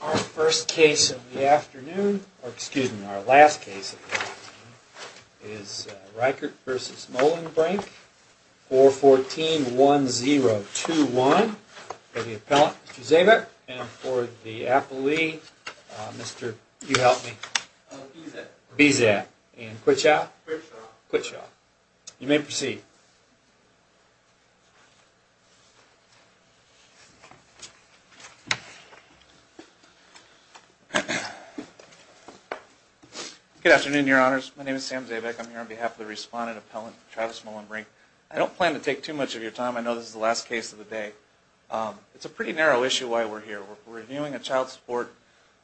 Our first case of the afternoon, or excuse me, our last case of the afternoon, is Reichert v. Mohlenbrink, 414-1021, for the appellant, Mr. Zabik, and for the appellee, Mr., you help me, Bizet, and Quitshaw? Quitshaw. Quitshaw. You may proceed. Good afternoon, Your Honors. My name is Sam Zabik. I'm here on behalf of the respondent appellant, Travis Mohlenbrink. I don't plan to take too much of your time. I know this is the last case of the day. It's a pretty narrow issue why we're here. We're reviewing a child support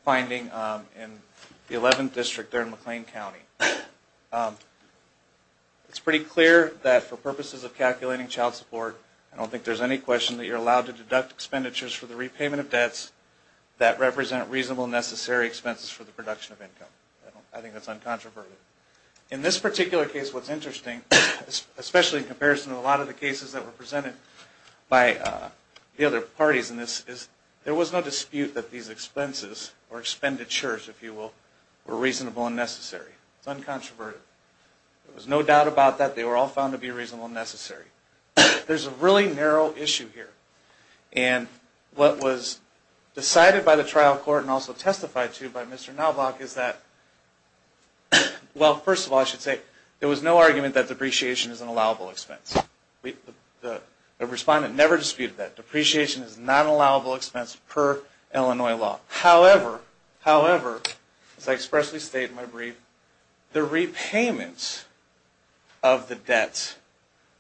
finding in the 11th District there in McLean County. It's pretty clear that for purposes of calculating child support, I don't think there's any question that you're allowed to deduct expenditures for the repayment of debts. That represent reasonable and necessary expenses for the production of income. I think that's uncontroverted. In this particular case, what's interesting, especially in comparison to a lot of the cases that were presented by the other parties in this, is there was no dispute that these expenses, or expenditures, if you will, were reasonable and necessary. It's uncontroverted. There was no doubt about that. They were all found to be reasonable and necessary. There's a really narrow issue here. And what was decided by the trial court and also testified to by Mr. Nalbach is that, well, first of all, I should say, there was no argument that depreciation is an allowable expense. The respondent never disputed that. Depreciation is not an allowable expense per Illinois law. However, as I expressly state in my brief, the repayments of the debts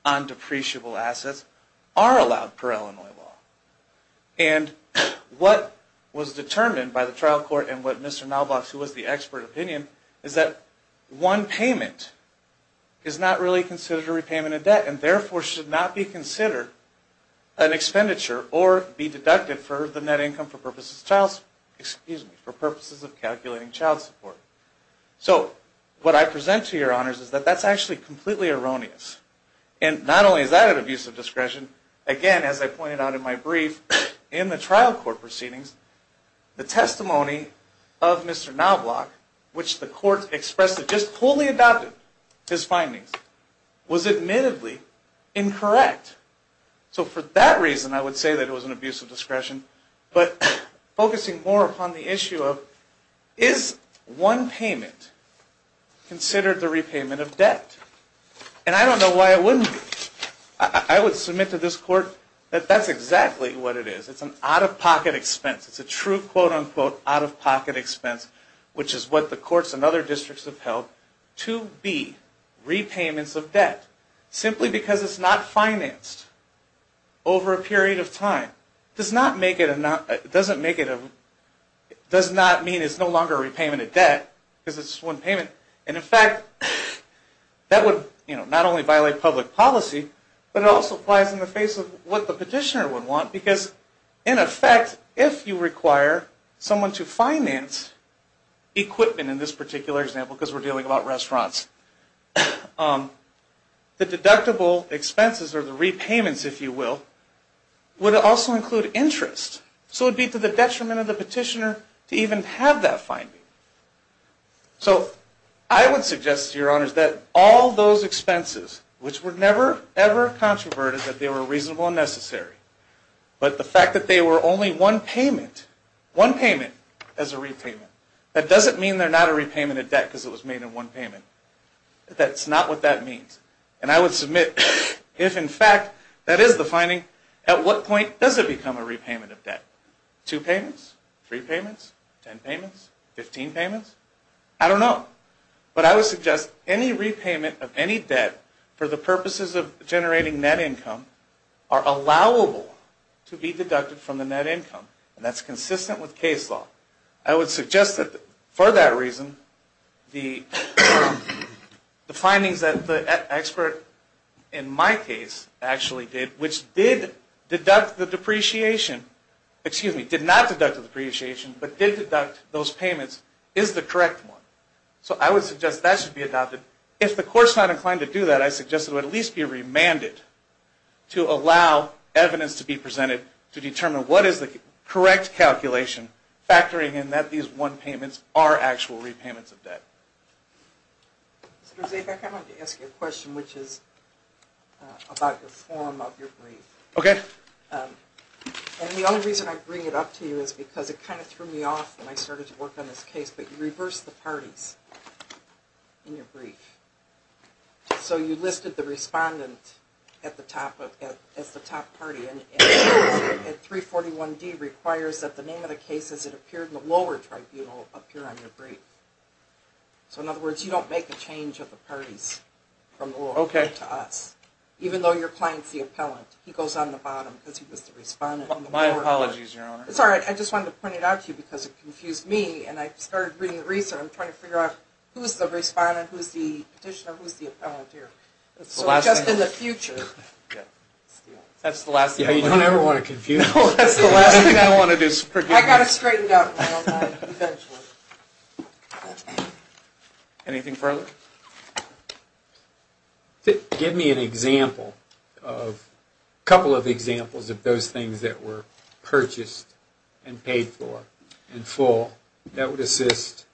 on depreciable assets are allowed per Illinois law. And what was determined by the trial court and what Mr. Nalbach, who was the expert opinion, is that one payment is not really considered a repayment of debt and therefore should not be considered an expenditure or be deducted for the net income for purposes of child support. Excuse me, for purposes of calculating child support. So what I present to your honors is that that's actually completely erroneous. And not only is that an abuse of discretion, again, as I pointed out in my brief, in the trial court proceedings, the testimony of Mr. Nalbach, which the court expressed had just fully adopted his findings, was admittedly incorrect. So for that reason, I would say that it was an abuse of discretion. But focusing more upon the issue of, is one payment considered the repayment of debt? And I don't know why it wouldn't be. I would submit to this court that that's exactly what it is. It's an out-of-pocket expense. It's a true, quote-unquote, out-of-pocket expense, which is what the courts and other districts have held to be repayments of debt. Simply because it's not financed over a period of time does not make it a, doesn't make it a, does not mean it's no longer a repayment of debt because it's one payment. And in fact, that would, you know, not only violate public policy, but it also applies in the face of what the petitioner would want because, in effect, if you require someone to finance equipment in this particular example, because we're dealing about restaurants. The deductible expenses, or the repayments, if you will, would also include interest. So it would be to the detriment of the petitioner to even have that finding. So I would suggest to your honors that all those expenses, which were never, ever controverted, that they were reasonable and necessary, but the fact that they were only one payment, one payment as a repayment, that doesn't mean they're not a repayment of debt because it was made in one payment. That's not what that means. And I would submit, if in fact that is the finding, at what point does it become a repayment of debt? Two payments? Three payments? Ten payments? Fifteen payments? I don't know. But I would suggest any repayment of any debt for the purposes of generating net income are allowable to be deducted from the net income. And that's consistent with case law. I would suggest that, for that reason, the findings that the expert in my case actually did, which did deduct the depreciation, excuse me, did not deduct the depreciation, but did deduct those payments, is the correct one. So I would suggest that should be adopted. If the court's not inclined to do that, I suggest it would at least be remanded to allow evidence to be presented to determine what is the correct calculation, factoring in that these one payments are actual repayments of debt. Mr. Zabeck, I wanted to ask you a question, which is about the form of your brief. Okay. And the only reason I bring it up to you is because it kind of threw me off when I started to work on this case, but you reverse the parties in your brief. So you listed the respondent as the top party, and 341D requires that the name of the case as it appeared in the lower tribunal appear on your brief. So in other words, you don't make a change of the parties from the lower court to us. Okay. Even though your client's the appellant. He goes on the bottom because he was the respondent on the lower court. My apologies, Your Honor. It's all right. I just wanted to point it out to you because it confused me, and I started reading the recent. I'm trying to figure out who's the respondent, who's the petitioner, who's the appellant here. That's the last thing. So just in the future. Yeah. That's the last thing. You don't ever want to confuse me. No, that's the last thing I want to do. I got it straightened out. Anything further? Give me a couple of examples of those things that were purchased and paid for and full that would assist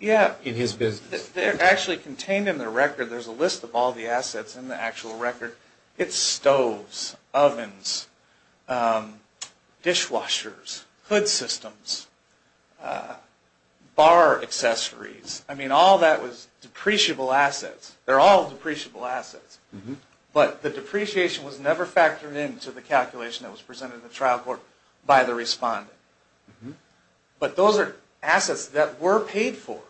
in his business. They're actually contained in the record. There's a list of all the assets in the actual record. It's stoves, ovens, dishwashers, hood systems, bar accessories. I mean, all that was depreciable assets. They're all depreciable assets. But the depreciation was never factored into the calculation that was presented in the trial court by the respondent. But those are assets that were paid for.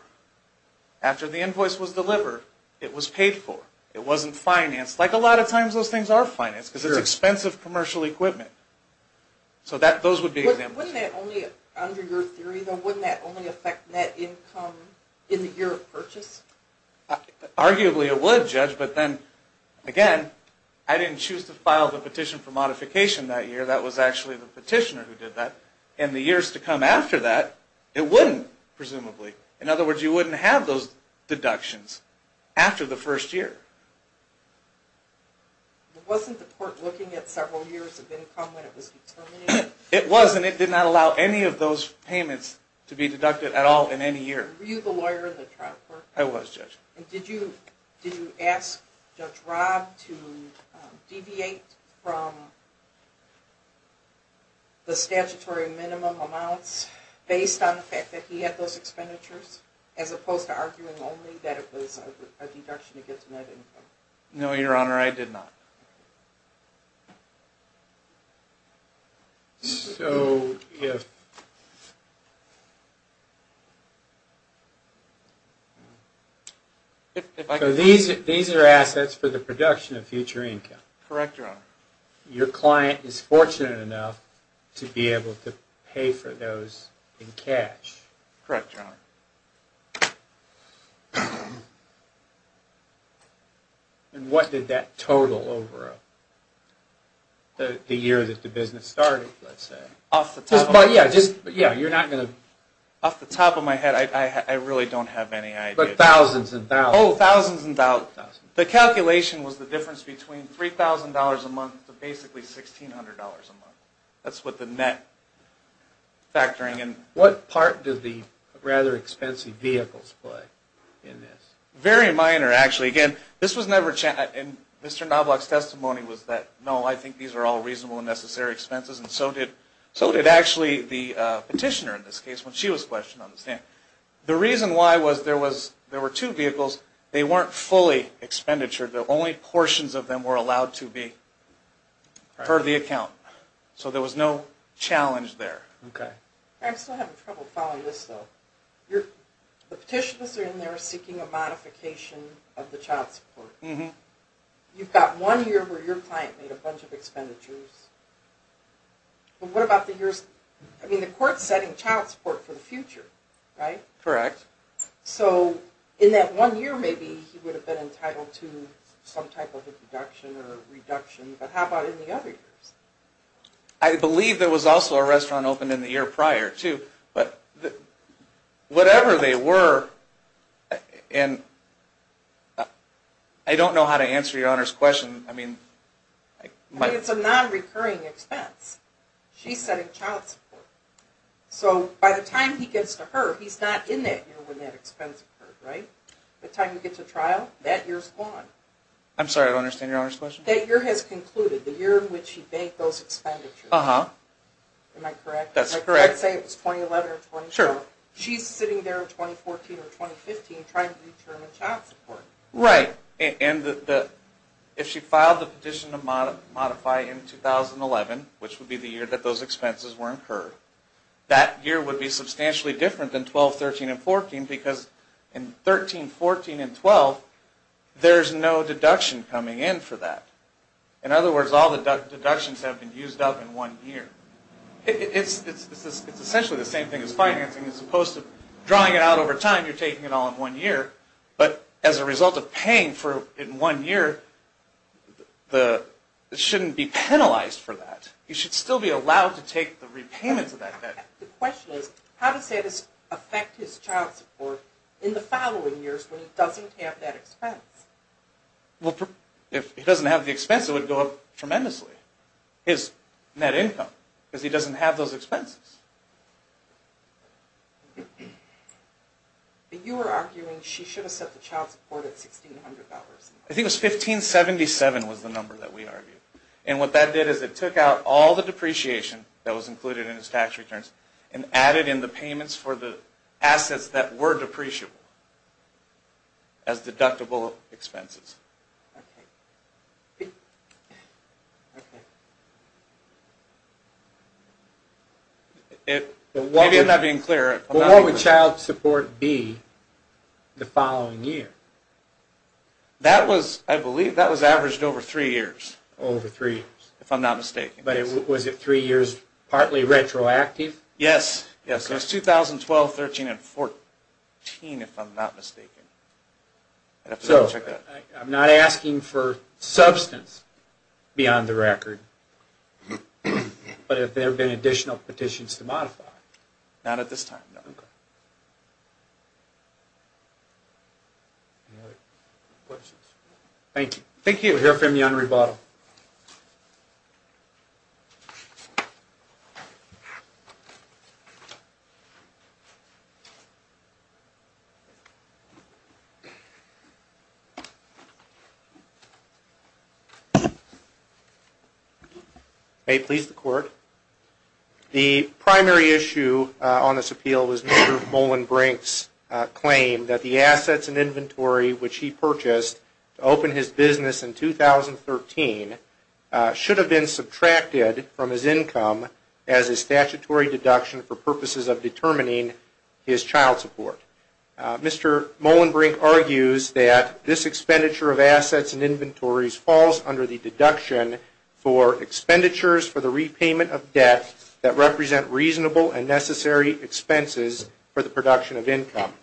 After the invoice was delivered, it was paid for. It wasn't financed, like a lot of times those things are financed because it's expensive commercial equipment. So those would be examples. Under your theory, though, wouldn't that only affect net income in the year of purchase? Arguably it would, Judge, but then, again, I didn't choose to file the petition for modification that year. That was actually the petitioner who did that. And the years to come after that, it wouldn't, presumably. In other words, you wouldn't have those deductions after the first year. Wasn't the court looking at several years of income when it was determining? It was, and it did not allow any of those payments to be deducted at all in any year. Were you the lawyer in the trial court? I was, Judge. Did you ask Judge Rob to deviate from the statutory minimum amounts based on the fact that he had those expenditures, as opposed to arguing only that it was a deduction against net income? No, Your Honor, I did not. So these are assets for the production of future income? Correct, Your Honor. Your client is fortunate enough to be able to pay for those in cash? Correct, Your Honor. And what did that total over the year that the business started, let's say? Off the top of my head, I really don't have any idea. But thousands and thousands? Oh, thousands and thousands. The calculation was the difference between $3,000 a month to basically $1,600 a month. That's what the net factoring is. And what part did the rather expensive vehicles play in this? Very minor, actually. Again, this was never challenged. And Mr. Novak's testimony was that, no, I think these are all reasonable and necessary expenses, and so did actually the petitioner in this case when she was questioned on the stand. The reason why was there were two vehicles. They weren't fully expenditured. Only portions of them were allowed to be part of the account. So there was no challenge there. Okay. I'm still having trouble following this, though. The petitioners are in there seeking a modification of the child support. You've got one year where your client made a bunch of expenditures. But what about the years, I mean, the court's setting child support for the future, right? Correct. So in that one year, maybe he would have been entitled to some type of a deduction or reduction. But how about in the other years? I believe there was also a restaurant opened in the year prior, too. But whatever they were, and I don't know how to answer Your Honor's question. I mean, it's a nonrecurring expense. She's setting child support. So by the time he gets to her, he's not in that year when that expense occurred, right? By the time he gets to trial, that year's gone. I'm sorry, I don't understand Your Honor's question. That year has concluded, the year in which he made those expenditures. Uh-huh. Am I correct? That's correct. I'd say it was 2011 or 2012. Sure. She's sitting there in 2014 or 2015 trying to determine child support. Right, and if she filed the petition to modify in 2011, which would be the year that those expenses were incurred, that year would be substantially different than 12, 13, and 14 because in 13, 14, and 12, there's no deduction coming in for that. In other words, all the deductions have been used up in one year. It's essentially the same thing as financing. As opposed to drawing it out over time, you're taking it all in one year. But as a result of paying for it in one year, it shouldn't be penalized for that. You should still be allowed to take the repayments of that debt. The question is, how does that affect his child support in the following years when he doesn't have that expense? If he doesn't have the expense, it would go up tremendously, his net income, because he doesn't have those expenses. You were arguing she should have set the child support at $1,600. I think it was $1,577 was the number that we argued. What that did is it took out all the depreciation that was included in his tax returns and added in the payments for the assets that were depreciable as deductible expenses. Maybe I'm not being clear. What would child support be the following year? I believe that was averaged over three years, if I'm not mistaken. Was it three years partly retroactive? Yes. It was 2012, 2013, and 2014, if I'm not mistaken. I'm not asking for substance beyond the record, but if there have been additional petitions to modify. Not at this time, no. Any other questions? Thank you. We'll hear from you on rebuttal. May it please the Court. The primary issue on this appeal was Mr. Molenbrink's claim that the assets and inventory which he purchased to open his business in 2013 should have been subtracted from his income as a statutory deduction for purposes of determining his child support. Mr. Molenbrink argues that this expenditure of assets and inventories falls under the deduction for expenditures for the repayment of debt that represent reasonable and necessary expenses for the production of income.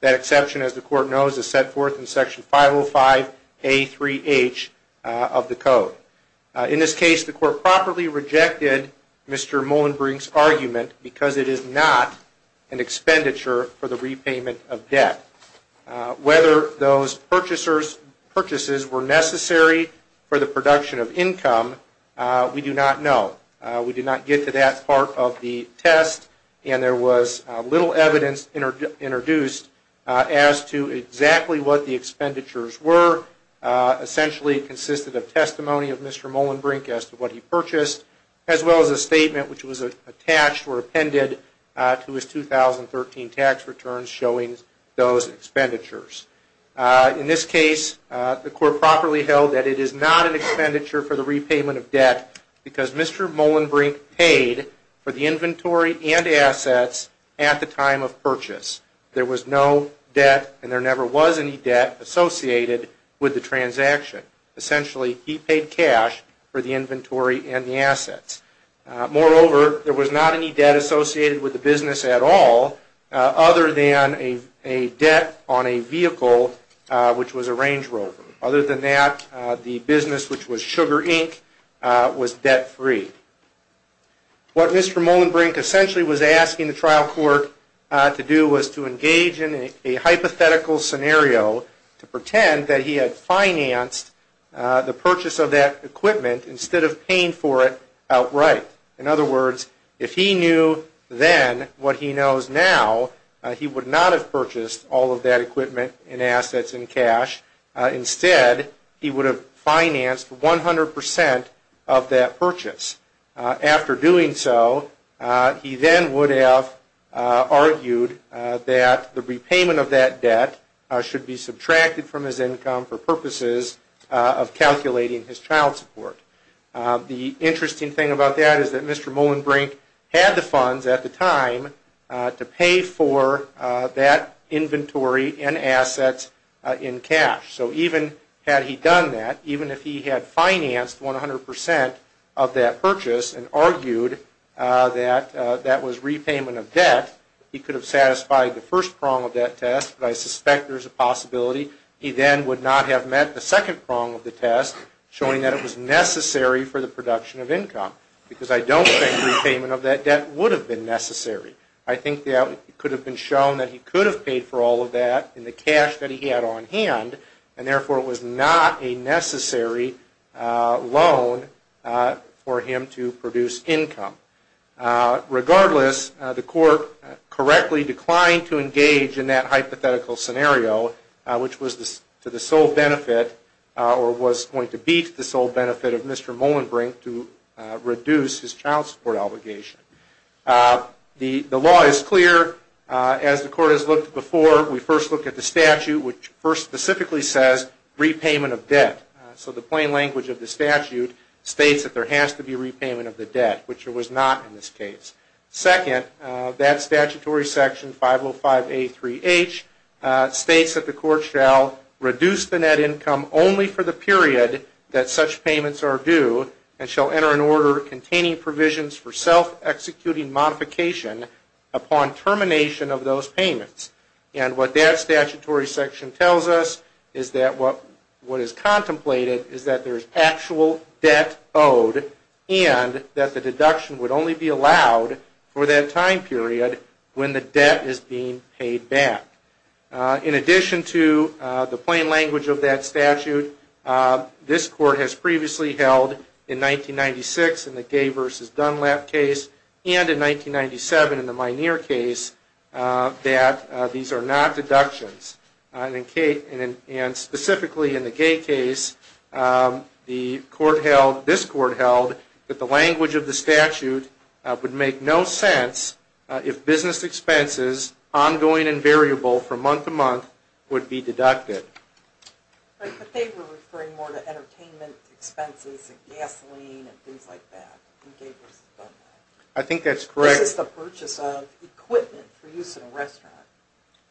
That exception, as the Court knows, is set forth in Section 505A3H of the Code. In this case, the Court properly rejected Mr. Molenbrink's argument because it is not an expenditure for the repayment of debt. Whether those purchases were necessary for the production of income, we do not know. We did not get to that part of the test, and there was little evidence introduced as to exactly what the expenditures were. Essentially, it consisted of testimony of Mr. Molenbrink as to what he purchased, as well as a statement which was attached or appended to his 2013 tax returns showing those expenditures. In this case, the Court properly held that it is not an expenditure for the repayment of debt because Mr. Molenbrink paid for the inventory and assets at the time of purchase. There was no debt, and there never was any debt, associated with the transaction. Essentially, he paid cash for the inventory and the assets. Moreover, there was not any debt associated with the business at all other than a debt on a vehicle, which was a Range Rover. Other than that, the business, which was Sugar, Inc., was debt-free. What Mr. Molenbrink essentially was asking the trial court to do was to engage in a hypothetical scenario to pretend that he had financed the purchase of that equipment instead of paying for it outright. In other words, if he knew then what he knows now, he would not have purchased all of that equipment and assets in cash. Instead, he would have financed 100% of that purchase. After doing so, he then would have argued that the repayment of that debt should be subtracted from his income for purposes of calculating his child support. The interesting thing about that is that Mr. Molenbrink had the funds at the time to pay for that inventory and assets in cash. So even had he done that, even if he had financed 100% of that purchase and argued that that was repayment of debt, he could have satisfied the first prong of that test, but I suspect there is a possibility he then would not have met the second prong of the test, showing that it was necessary for the production of income. Because I don't think repayment of that debt would have been necessary. I think it could have been shown that he could have paid for all of that in the cash that he had on hand, and therefore it was not a necessary loan for him to produce income. Regardless, the court correctly declined to engage in that hypothetical scenario, which was to the sole benefit, or was going to be to the sole benefit of Mr. Molenbrink to reduce his child support obligation. The law is clear. As the court has looked before, we first look at the statute, which first specifically says repayment of debt. So the plain language of the statute states that there has to be repayment of the debt, which there was not in this case. Second, that statutory section, 505A3H, states that the court shall reduce the net income only for the period that such payments are due, and shall enter an order containing provisions for self-executing modification upon termination of those payments. And what that statutory section tells us is that what is contemplated is that there is actual debt owed, and that the deduction would only be allowed for that time period when the debt is being paid back. In addition to the plain language of that statute, this court has previously held in 1996 in the Gay v. Dunlap case, and in 1997 in the Minear case, that these are not deductions. And specifically in the Gay case, this court held that the language of the statute would make no sense if business expenses ongoing and variable from month to month would be deducted. But they were referring more to entertainment expenses and gasoline and things like that in Gay v. Dunlap. I think that's correct. This is the purchase of equipment for use in a restaurant.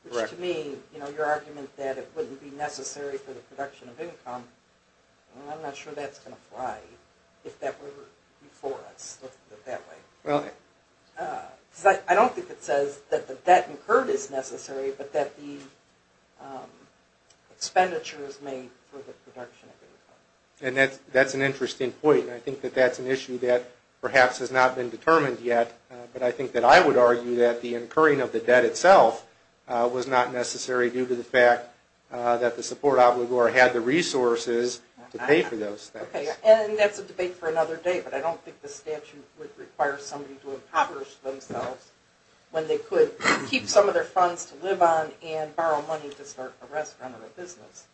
Which to me, your argument that it wouldn't be necessary for the production of income, I'm not sure that's going to fly if that were before us. I don't think it says that the debt incurred is necessary, but that the expenditure is made for the production of income. And that's an interesting point. I think that that's an issue that perhaps has not been determined yet, but I think that I would argue that the incurring of the debt itself was not necessary due to the fact that the support obligor had the resources to pay for those things. And that's a debate for another day, but I don't think the statute would require somebody to impoverish themselves when they could keep some of their funds to live on and borrow money to start a restaurant or a business.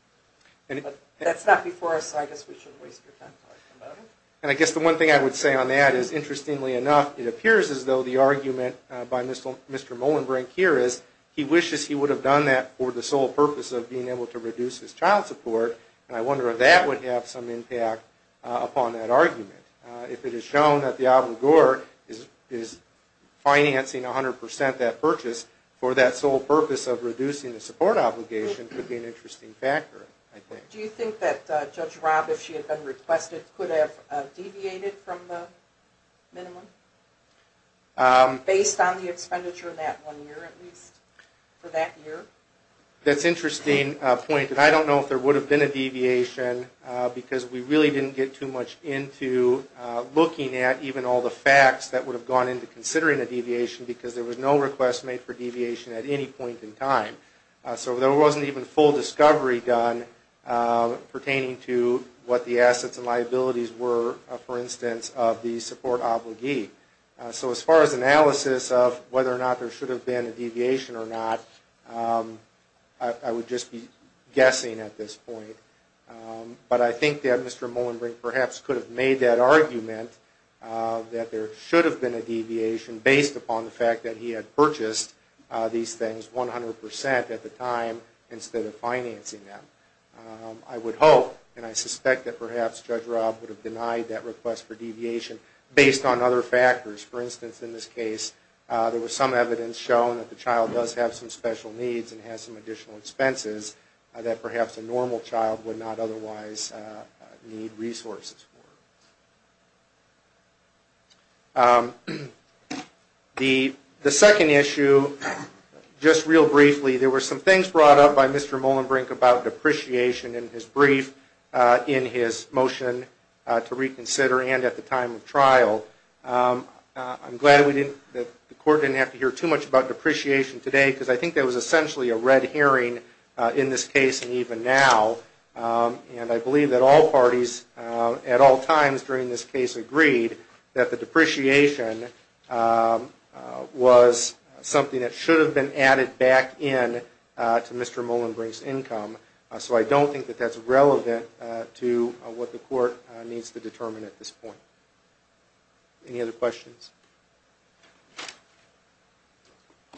But that's not before us, so I guess we shouldn't waste your time talking about it. And I guess the one thing I would say on that is, interestingly enough, it appears as though the argument by Mr. Molenbrink here is he wishes he would have done that for the sole purpose of being able to reduce his child support, and I wonder if that would have some impact upon that argument. If it is shown that the obligor is financing 100 percent that purchase for that sole purpose of reducing the support obligation, it would be an interesting factor, I think. Do you think that Judge Rob, if she had been requested, could have deviated from the minimum? Based on the expenditure in that one year, at least, for that year? That's an interesting point, and I don't know if there would have been a deviation, because we really didn't get too much into looking at even all the facts that would have gone into considering a deviation, because there was no request made for deviation at any point in time. So there wasn't even full discovery done pertaining to what the assets and liabilities were, for instance, of the support obligee. So as far as analysis of whether or not there should have been a deviation or not, I would just be guessing at this point. But I think that Mr. Molenbrink perhaps could have made that argument that there should have been a deviation based upon the fact that he had purchased these things 100 percent at the time instead of financing them. I would hope, and I suspect that perhaps Judge Rob would have denied that request for deviation based on other factors. For instance, in this case, there was some evidence shown that the child does have some special needs and has some additional expenses that perhaps a normal child would not otherwise need resources for. The second issue, just real briefly, there were some things brought up by Mr. Molenbrink about depreciation in his brief in his motion to reconsider and at the time of trial. I'm glad that the Court didn't have to hear too much about depreciation today, because I think there was essentially a red herring in this case and even now. And I believe that all parties at all times during this case agreed that the depreciation was something that should have been added back in to Mr. Molenbrink's income. So I don't think that that's relevant to what the Court needs to determine at this point. Any other questions?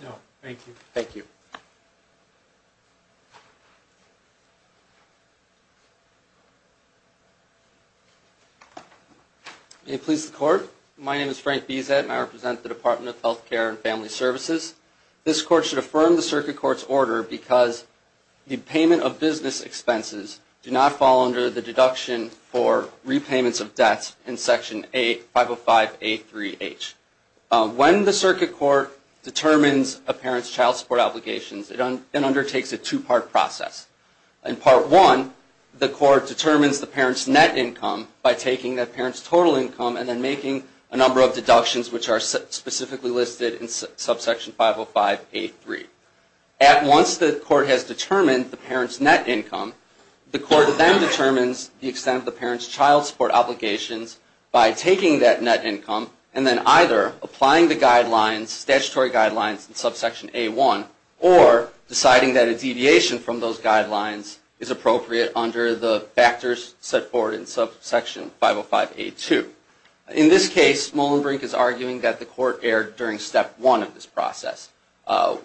No, thank you. Thank you. May it please the Court, my name is Frank Bizet and I represent the Department of Health Care and Family Services. This Court should affirm the Circuit Court's order because the payment of business expenses do not fall under the deduction for repayments of debts in Section 505A3H. When the Circuit Court determines a parent's child support obligations, it undertakes a two-part process. In Part 1, the Court determines the parent's net income by taking that parent's total income and then making a number of deductions which are specifically listed in subsection 505A3. Once the Court has determined the parent's net income, the Court then determines the extent of the parent's child support obligations by taking that net income and then either applying the statutory guidelines in subsection A1 or deciding that a deviation from those guidelines is appropriate under the factors set forward in subsection 505A2. In this case, Molenbrink is arguing that the Court erred during Step 1 of this process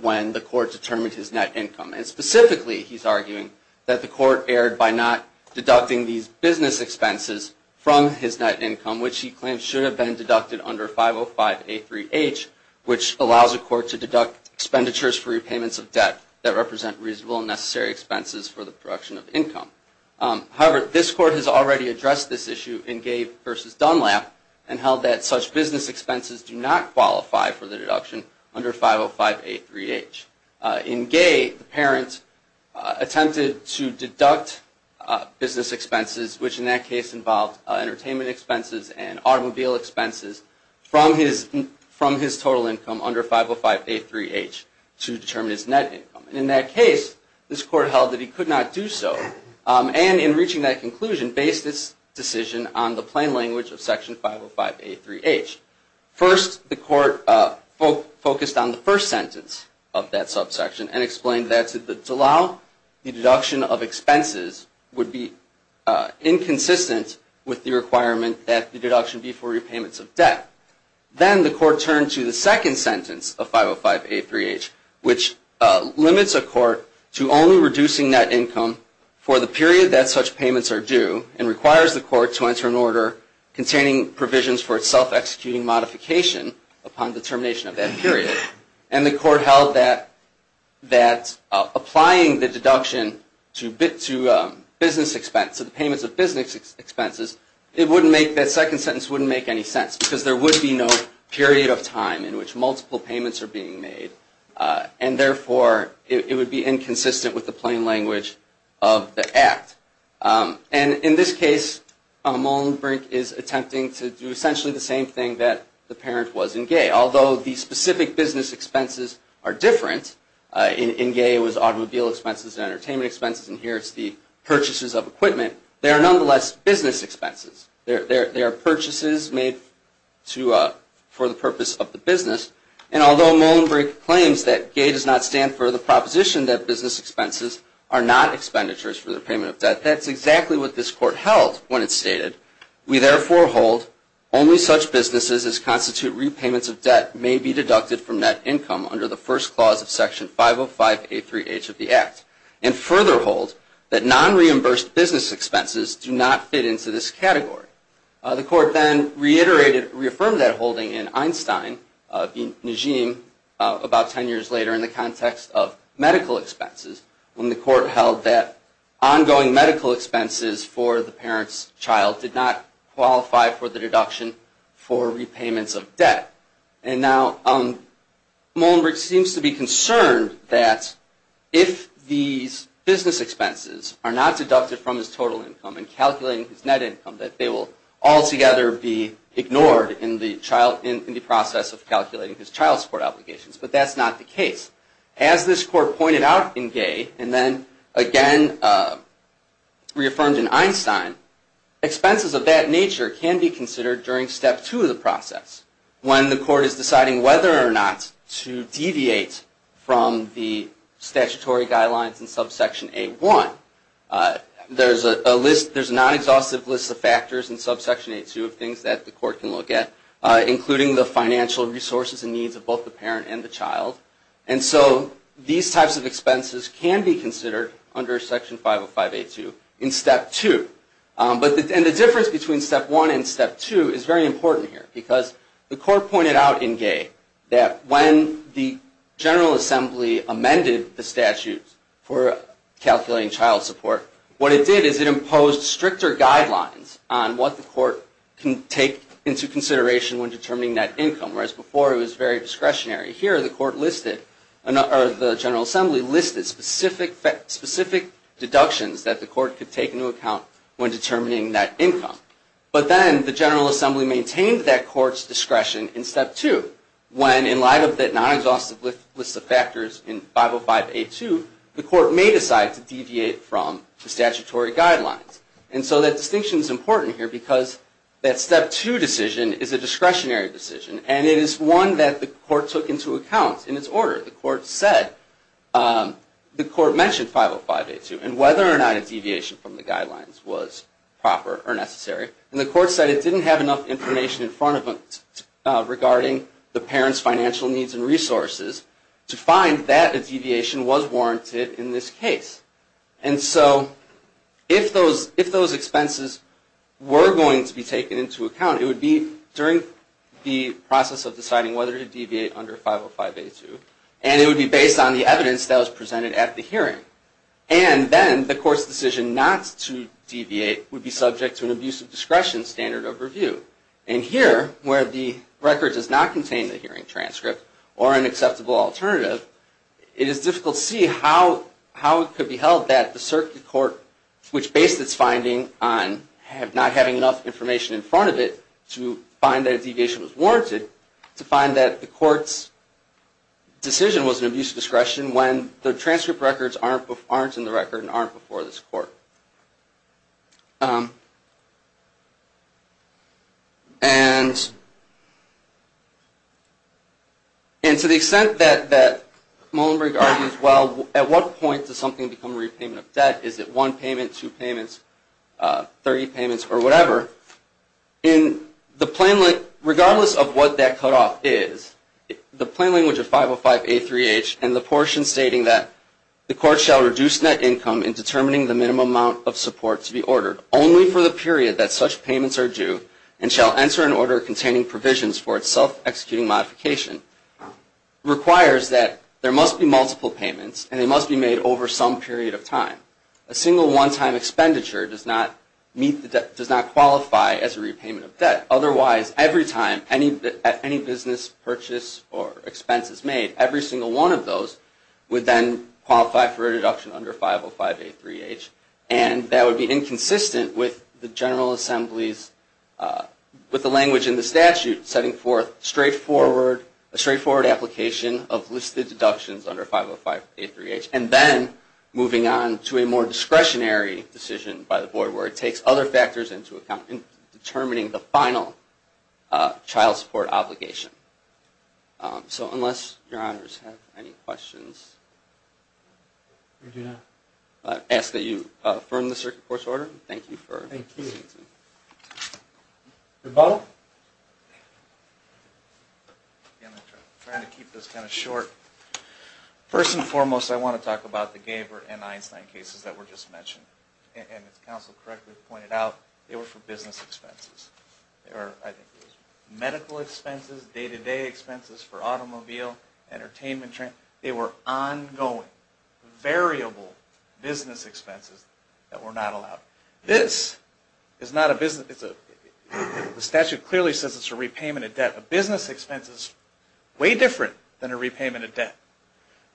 when the Court determined his net income. Specifically, he's arguing that the Court erred by not deducting these business expenses from his net income which he claims should have been deducted under 505A3H which allows the Court to deduct expenditures for repayments of debt that represent reasonable and necessary expenses for the production of income. However, this Court has already addressed this issue in Gave v. Dunlap and held that such business expenses do not qualify for the deduction under 505A3H. In Gave, the parent attempted to deduct business expenses which in that case involved entertainment expenses and automobile expenses from his total income under 505A3H to determine his net income. In that case, this Court held that he could not do so and in reaching that conclusion, based its decision on the plain language of section 505A3H. First, the Court focused on the first sentence of that subsection and explained that to allow the deduction of expenses would be inconsistent with the requirement that the deduction be for repayments of debt. Then the Court turned to the second sentence of 505A3H which limits a Court to only reducing net income for the period that such payments are due and requires the Court to enter an order containing provisions for its self-executing modification upon determination of that period. And the Court held that applying the deduction to business expenses, payments of business expenses, that second sentence wouldn't make any sense because there would be no period of time in which multiple payments are being made and therefore it would be inconsistent with the plain language of the Act. And in this case, Molenbrink is attempting to do essentially the same thing that the parent was in Gave. Although the specific business expenses are different, in Gave it was automobile expenses and entertainment expenses and here it's the purchases of equipment, they are nonetheless business expenses. They are purchases made for the purpose of the business. And although Molenbrink claims that Gave does not stand for the proposition that business expenses are not expenditures for the payment of debt, that's exactly what this Court held when it stated, we therefore hold only such businesses as constitute repayments of debt may be deducted from net income under the first clause of Section 505A3H of the Act and further hold that non-reimbursed business expenses do not fit into this category. The Court then reiterated, reaffirmed that holding in Einstein v. Najim about 10 years later in the context of medical expenses when the Court held that ongoing medical expenses for the parent's child did not qualify for the deduction for repayments of debt. And now Molenbrink seems to be concerned that if these business expenses are not deducted from his total income and calculated as net income that they will altogether be ignored in the process of calculating his child support obligations, but that's not the case. As this Court pointed out in Gave and then again reaffirmed in Einstein, expenses of that nature can be considered during Step 2 of the process when the Court is deciding whether or not to deviate from the statutory guidelines in Subsection A1. There's a non-exhaustive list of factors in Subsection A2 of things that the Court can look at, including the financial resources and needs of both the parent and the child. And so these types of expenses can be considered under Section 505A2 in Step 2. And the difference between Step 1 and Step 2 is very important here because the Court pointed out in Gave that when the General Assembly amended the statute for calculating child support, what it did is it imposed stricter guidelines on what the Court can take into consideration when determining net income, whereas before it was very discretionary. Here, the General Assembly listed specific deductions that the Court could take into account when determining net income. But then the General Assembly maintained that Court's discretion in Step 2, when in light of the non-exhaustive list of factors in 505A2, the Court may decide to deviate from the statutory guidelines. And so that distinction is important here because that Step 2 decision is a discretionary decision, and it is one that the Court took into account in its order. The Court mentioned 505A2 and whether or not a deviation from the guidelines was proper or necessary. And the Court said it didn't have enough information in front of it regarding the parent's financial needs and resources to find that a deviation was warranted in this case. And so if those expenses were going to be taken into account, it would be during the process of deciding whether to deviate under 505A2, and it would be based on the evidence that was presented at the hearing. And then the Court's decision not to deviate would be subject to an abusive discretion standard of review. And here, where the record does not contain the hearing transcript or an acceptable alternative, it is difficult to see how it could be held that the Circuit Court, which based its finding on not having enough information in front of it to find that a deviation was warranted, to find that the Court's decision was an abusive discretion when the transcript records aren't in the record and aren't before this Court. And to the extent that Muilenburg argues, well, at what point does something become a repayment of debt? Is it one payment, two payments, 30 payments, or whatever, regardless of what that cutoff is, the plain language of 505A3H and the portion stating that the Court shall reduce net income in determining the minimum amount of support to be ordered only for the period that such payments are due and shall enter an order containing provisions for its self-executing modification, requires that there must be multiple payments and they must be made over some period of time. A single one-time expenditure does not meet the debt, does not qualify as a repayment of debt. Otherwise, every time any business purchase or expense is made, every single one of those would then qualify for a reduction under 505A3H. And that would be inconsistent with the General Assembly's, with the language in the statute, setting forth a straightforward application of listed deductions under 505A3H, and then moving on to a more discretionary decision by the Board where it takes other factors into account in determining the final child support obligation. So unless Your Honors have any questions, I ask that you affirm the Circuit Court's order. Thank you. I'm trying to keep this kind of short. First and foremost, I want to talk about the Gaber and Einstein cases that were just mentioned. And as counsel correctly pointed out, they were for business expenses. They were medical expenses, day-to-day expenses for automobile, entertainment. They were ongoing, variable business expenses that were not allowed. This is not a business. The statute clearly says it's a repayment of debt. A business expense is way different than a repayment of debt.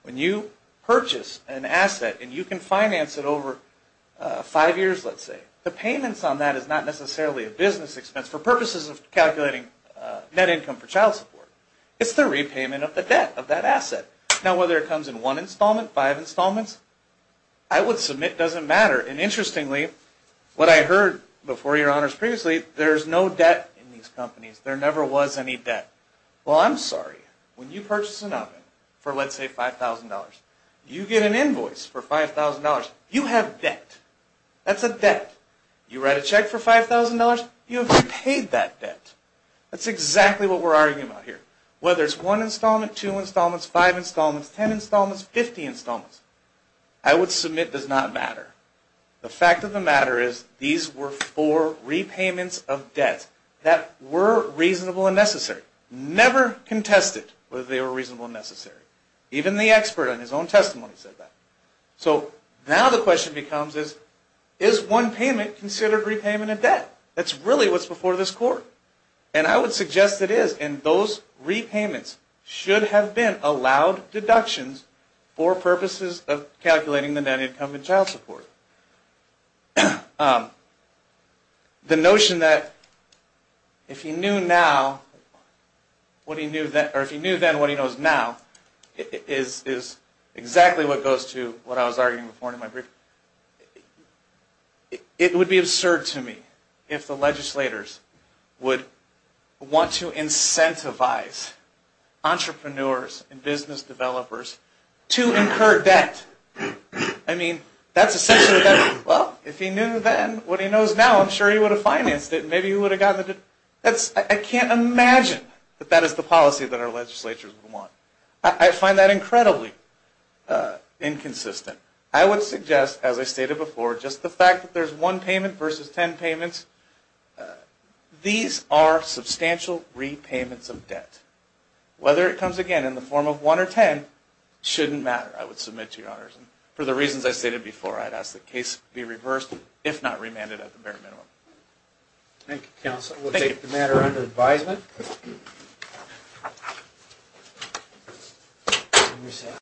When you purchase an asset and you can finance it over five years, let's say, the payments on that is not necessarily a business expense for purposes of calculating net income for child support. It's the repayment of the debt of that asset. Now, whether it comes in one installment, five installments, I would submit it doesn't matter. And interestingly, what I heard before Your Honors previously, there's no debt in these companies. There never was any debt. Well, I'm sorry. When you purchase an oven for, let's say, $5,000, you get an invoice for $5,000. You have debt. That's a debt. You write a check for $5,000. You have repaid that debt. That's exactly what we're arguing about here. Whether it's one installment, two installments, five installments, ten installments, 50 installments, I would submit does not matter. The fact of the matter is these were four repayments of debt that were reasonable and necessary. Never contested whether they were reasonable and necessary. Even the expert on his own testimony said that. So now the question becomes is, is one payment considered repayment of debt? That's really what's before this court. And I would suggest it is. And those repayments should have been allowed deductions for purposes of calculating the net income in child support. The notion that if he knew then what he knows now is exactly what goes to what I was arguing before in my briefing. It would be absurd to me if the legislators would want to incentivize entrepreneurs and business developers to incur debt. I mean, that's essentially debt. Well, if he knew then what he knows now, I'm sure he would have financed it. Maybe he would have gotten the debt. I can't imagine that that is the policy that our legislatures would want. I find that incredibly inconsistent. I would suggest, as I stated before, just the fact that there's one payment versus ten payments. These are substantial repayments of debt. Whether it comes again in the form of one or ten shouldn't matter, I would submit to your honors. For the reasons I stated before, I'd ask the case be reversed, if not remanded at the bare minimum. Thank you, counsel. We'll take the matter under advisement.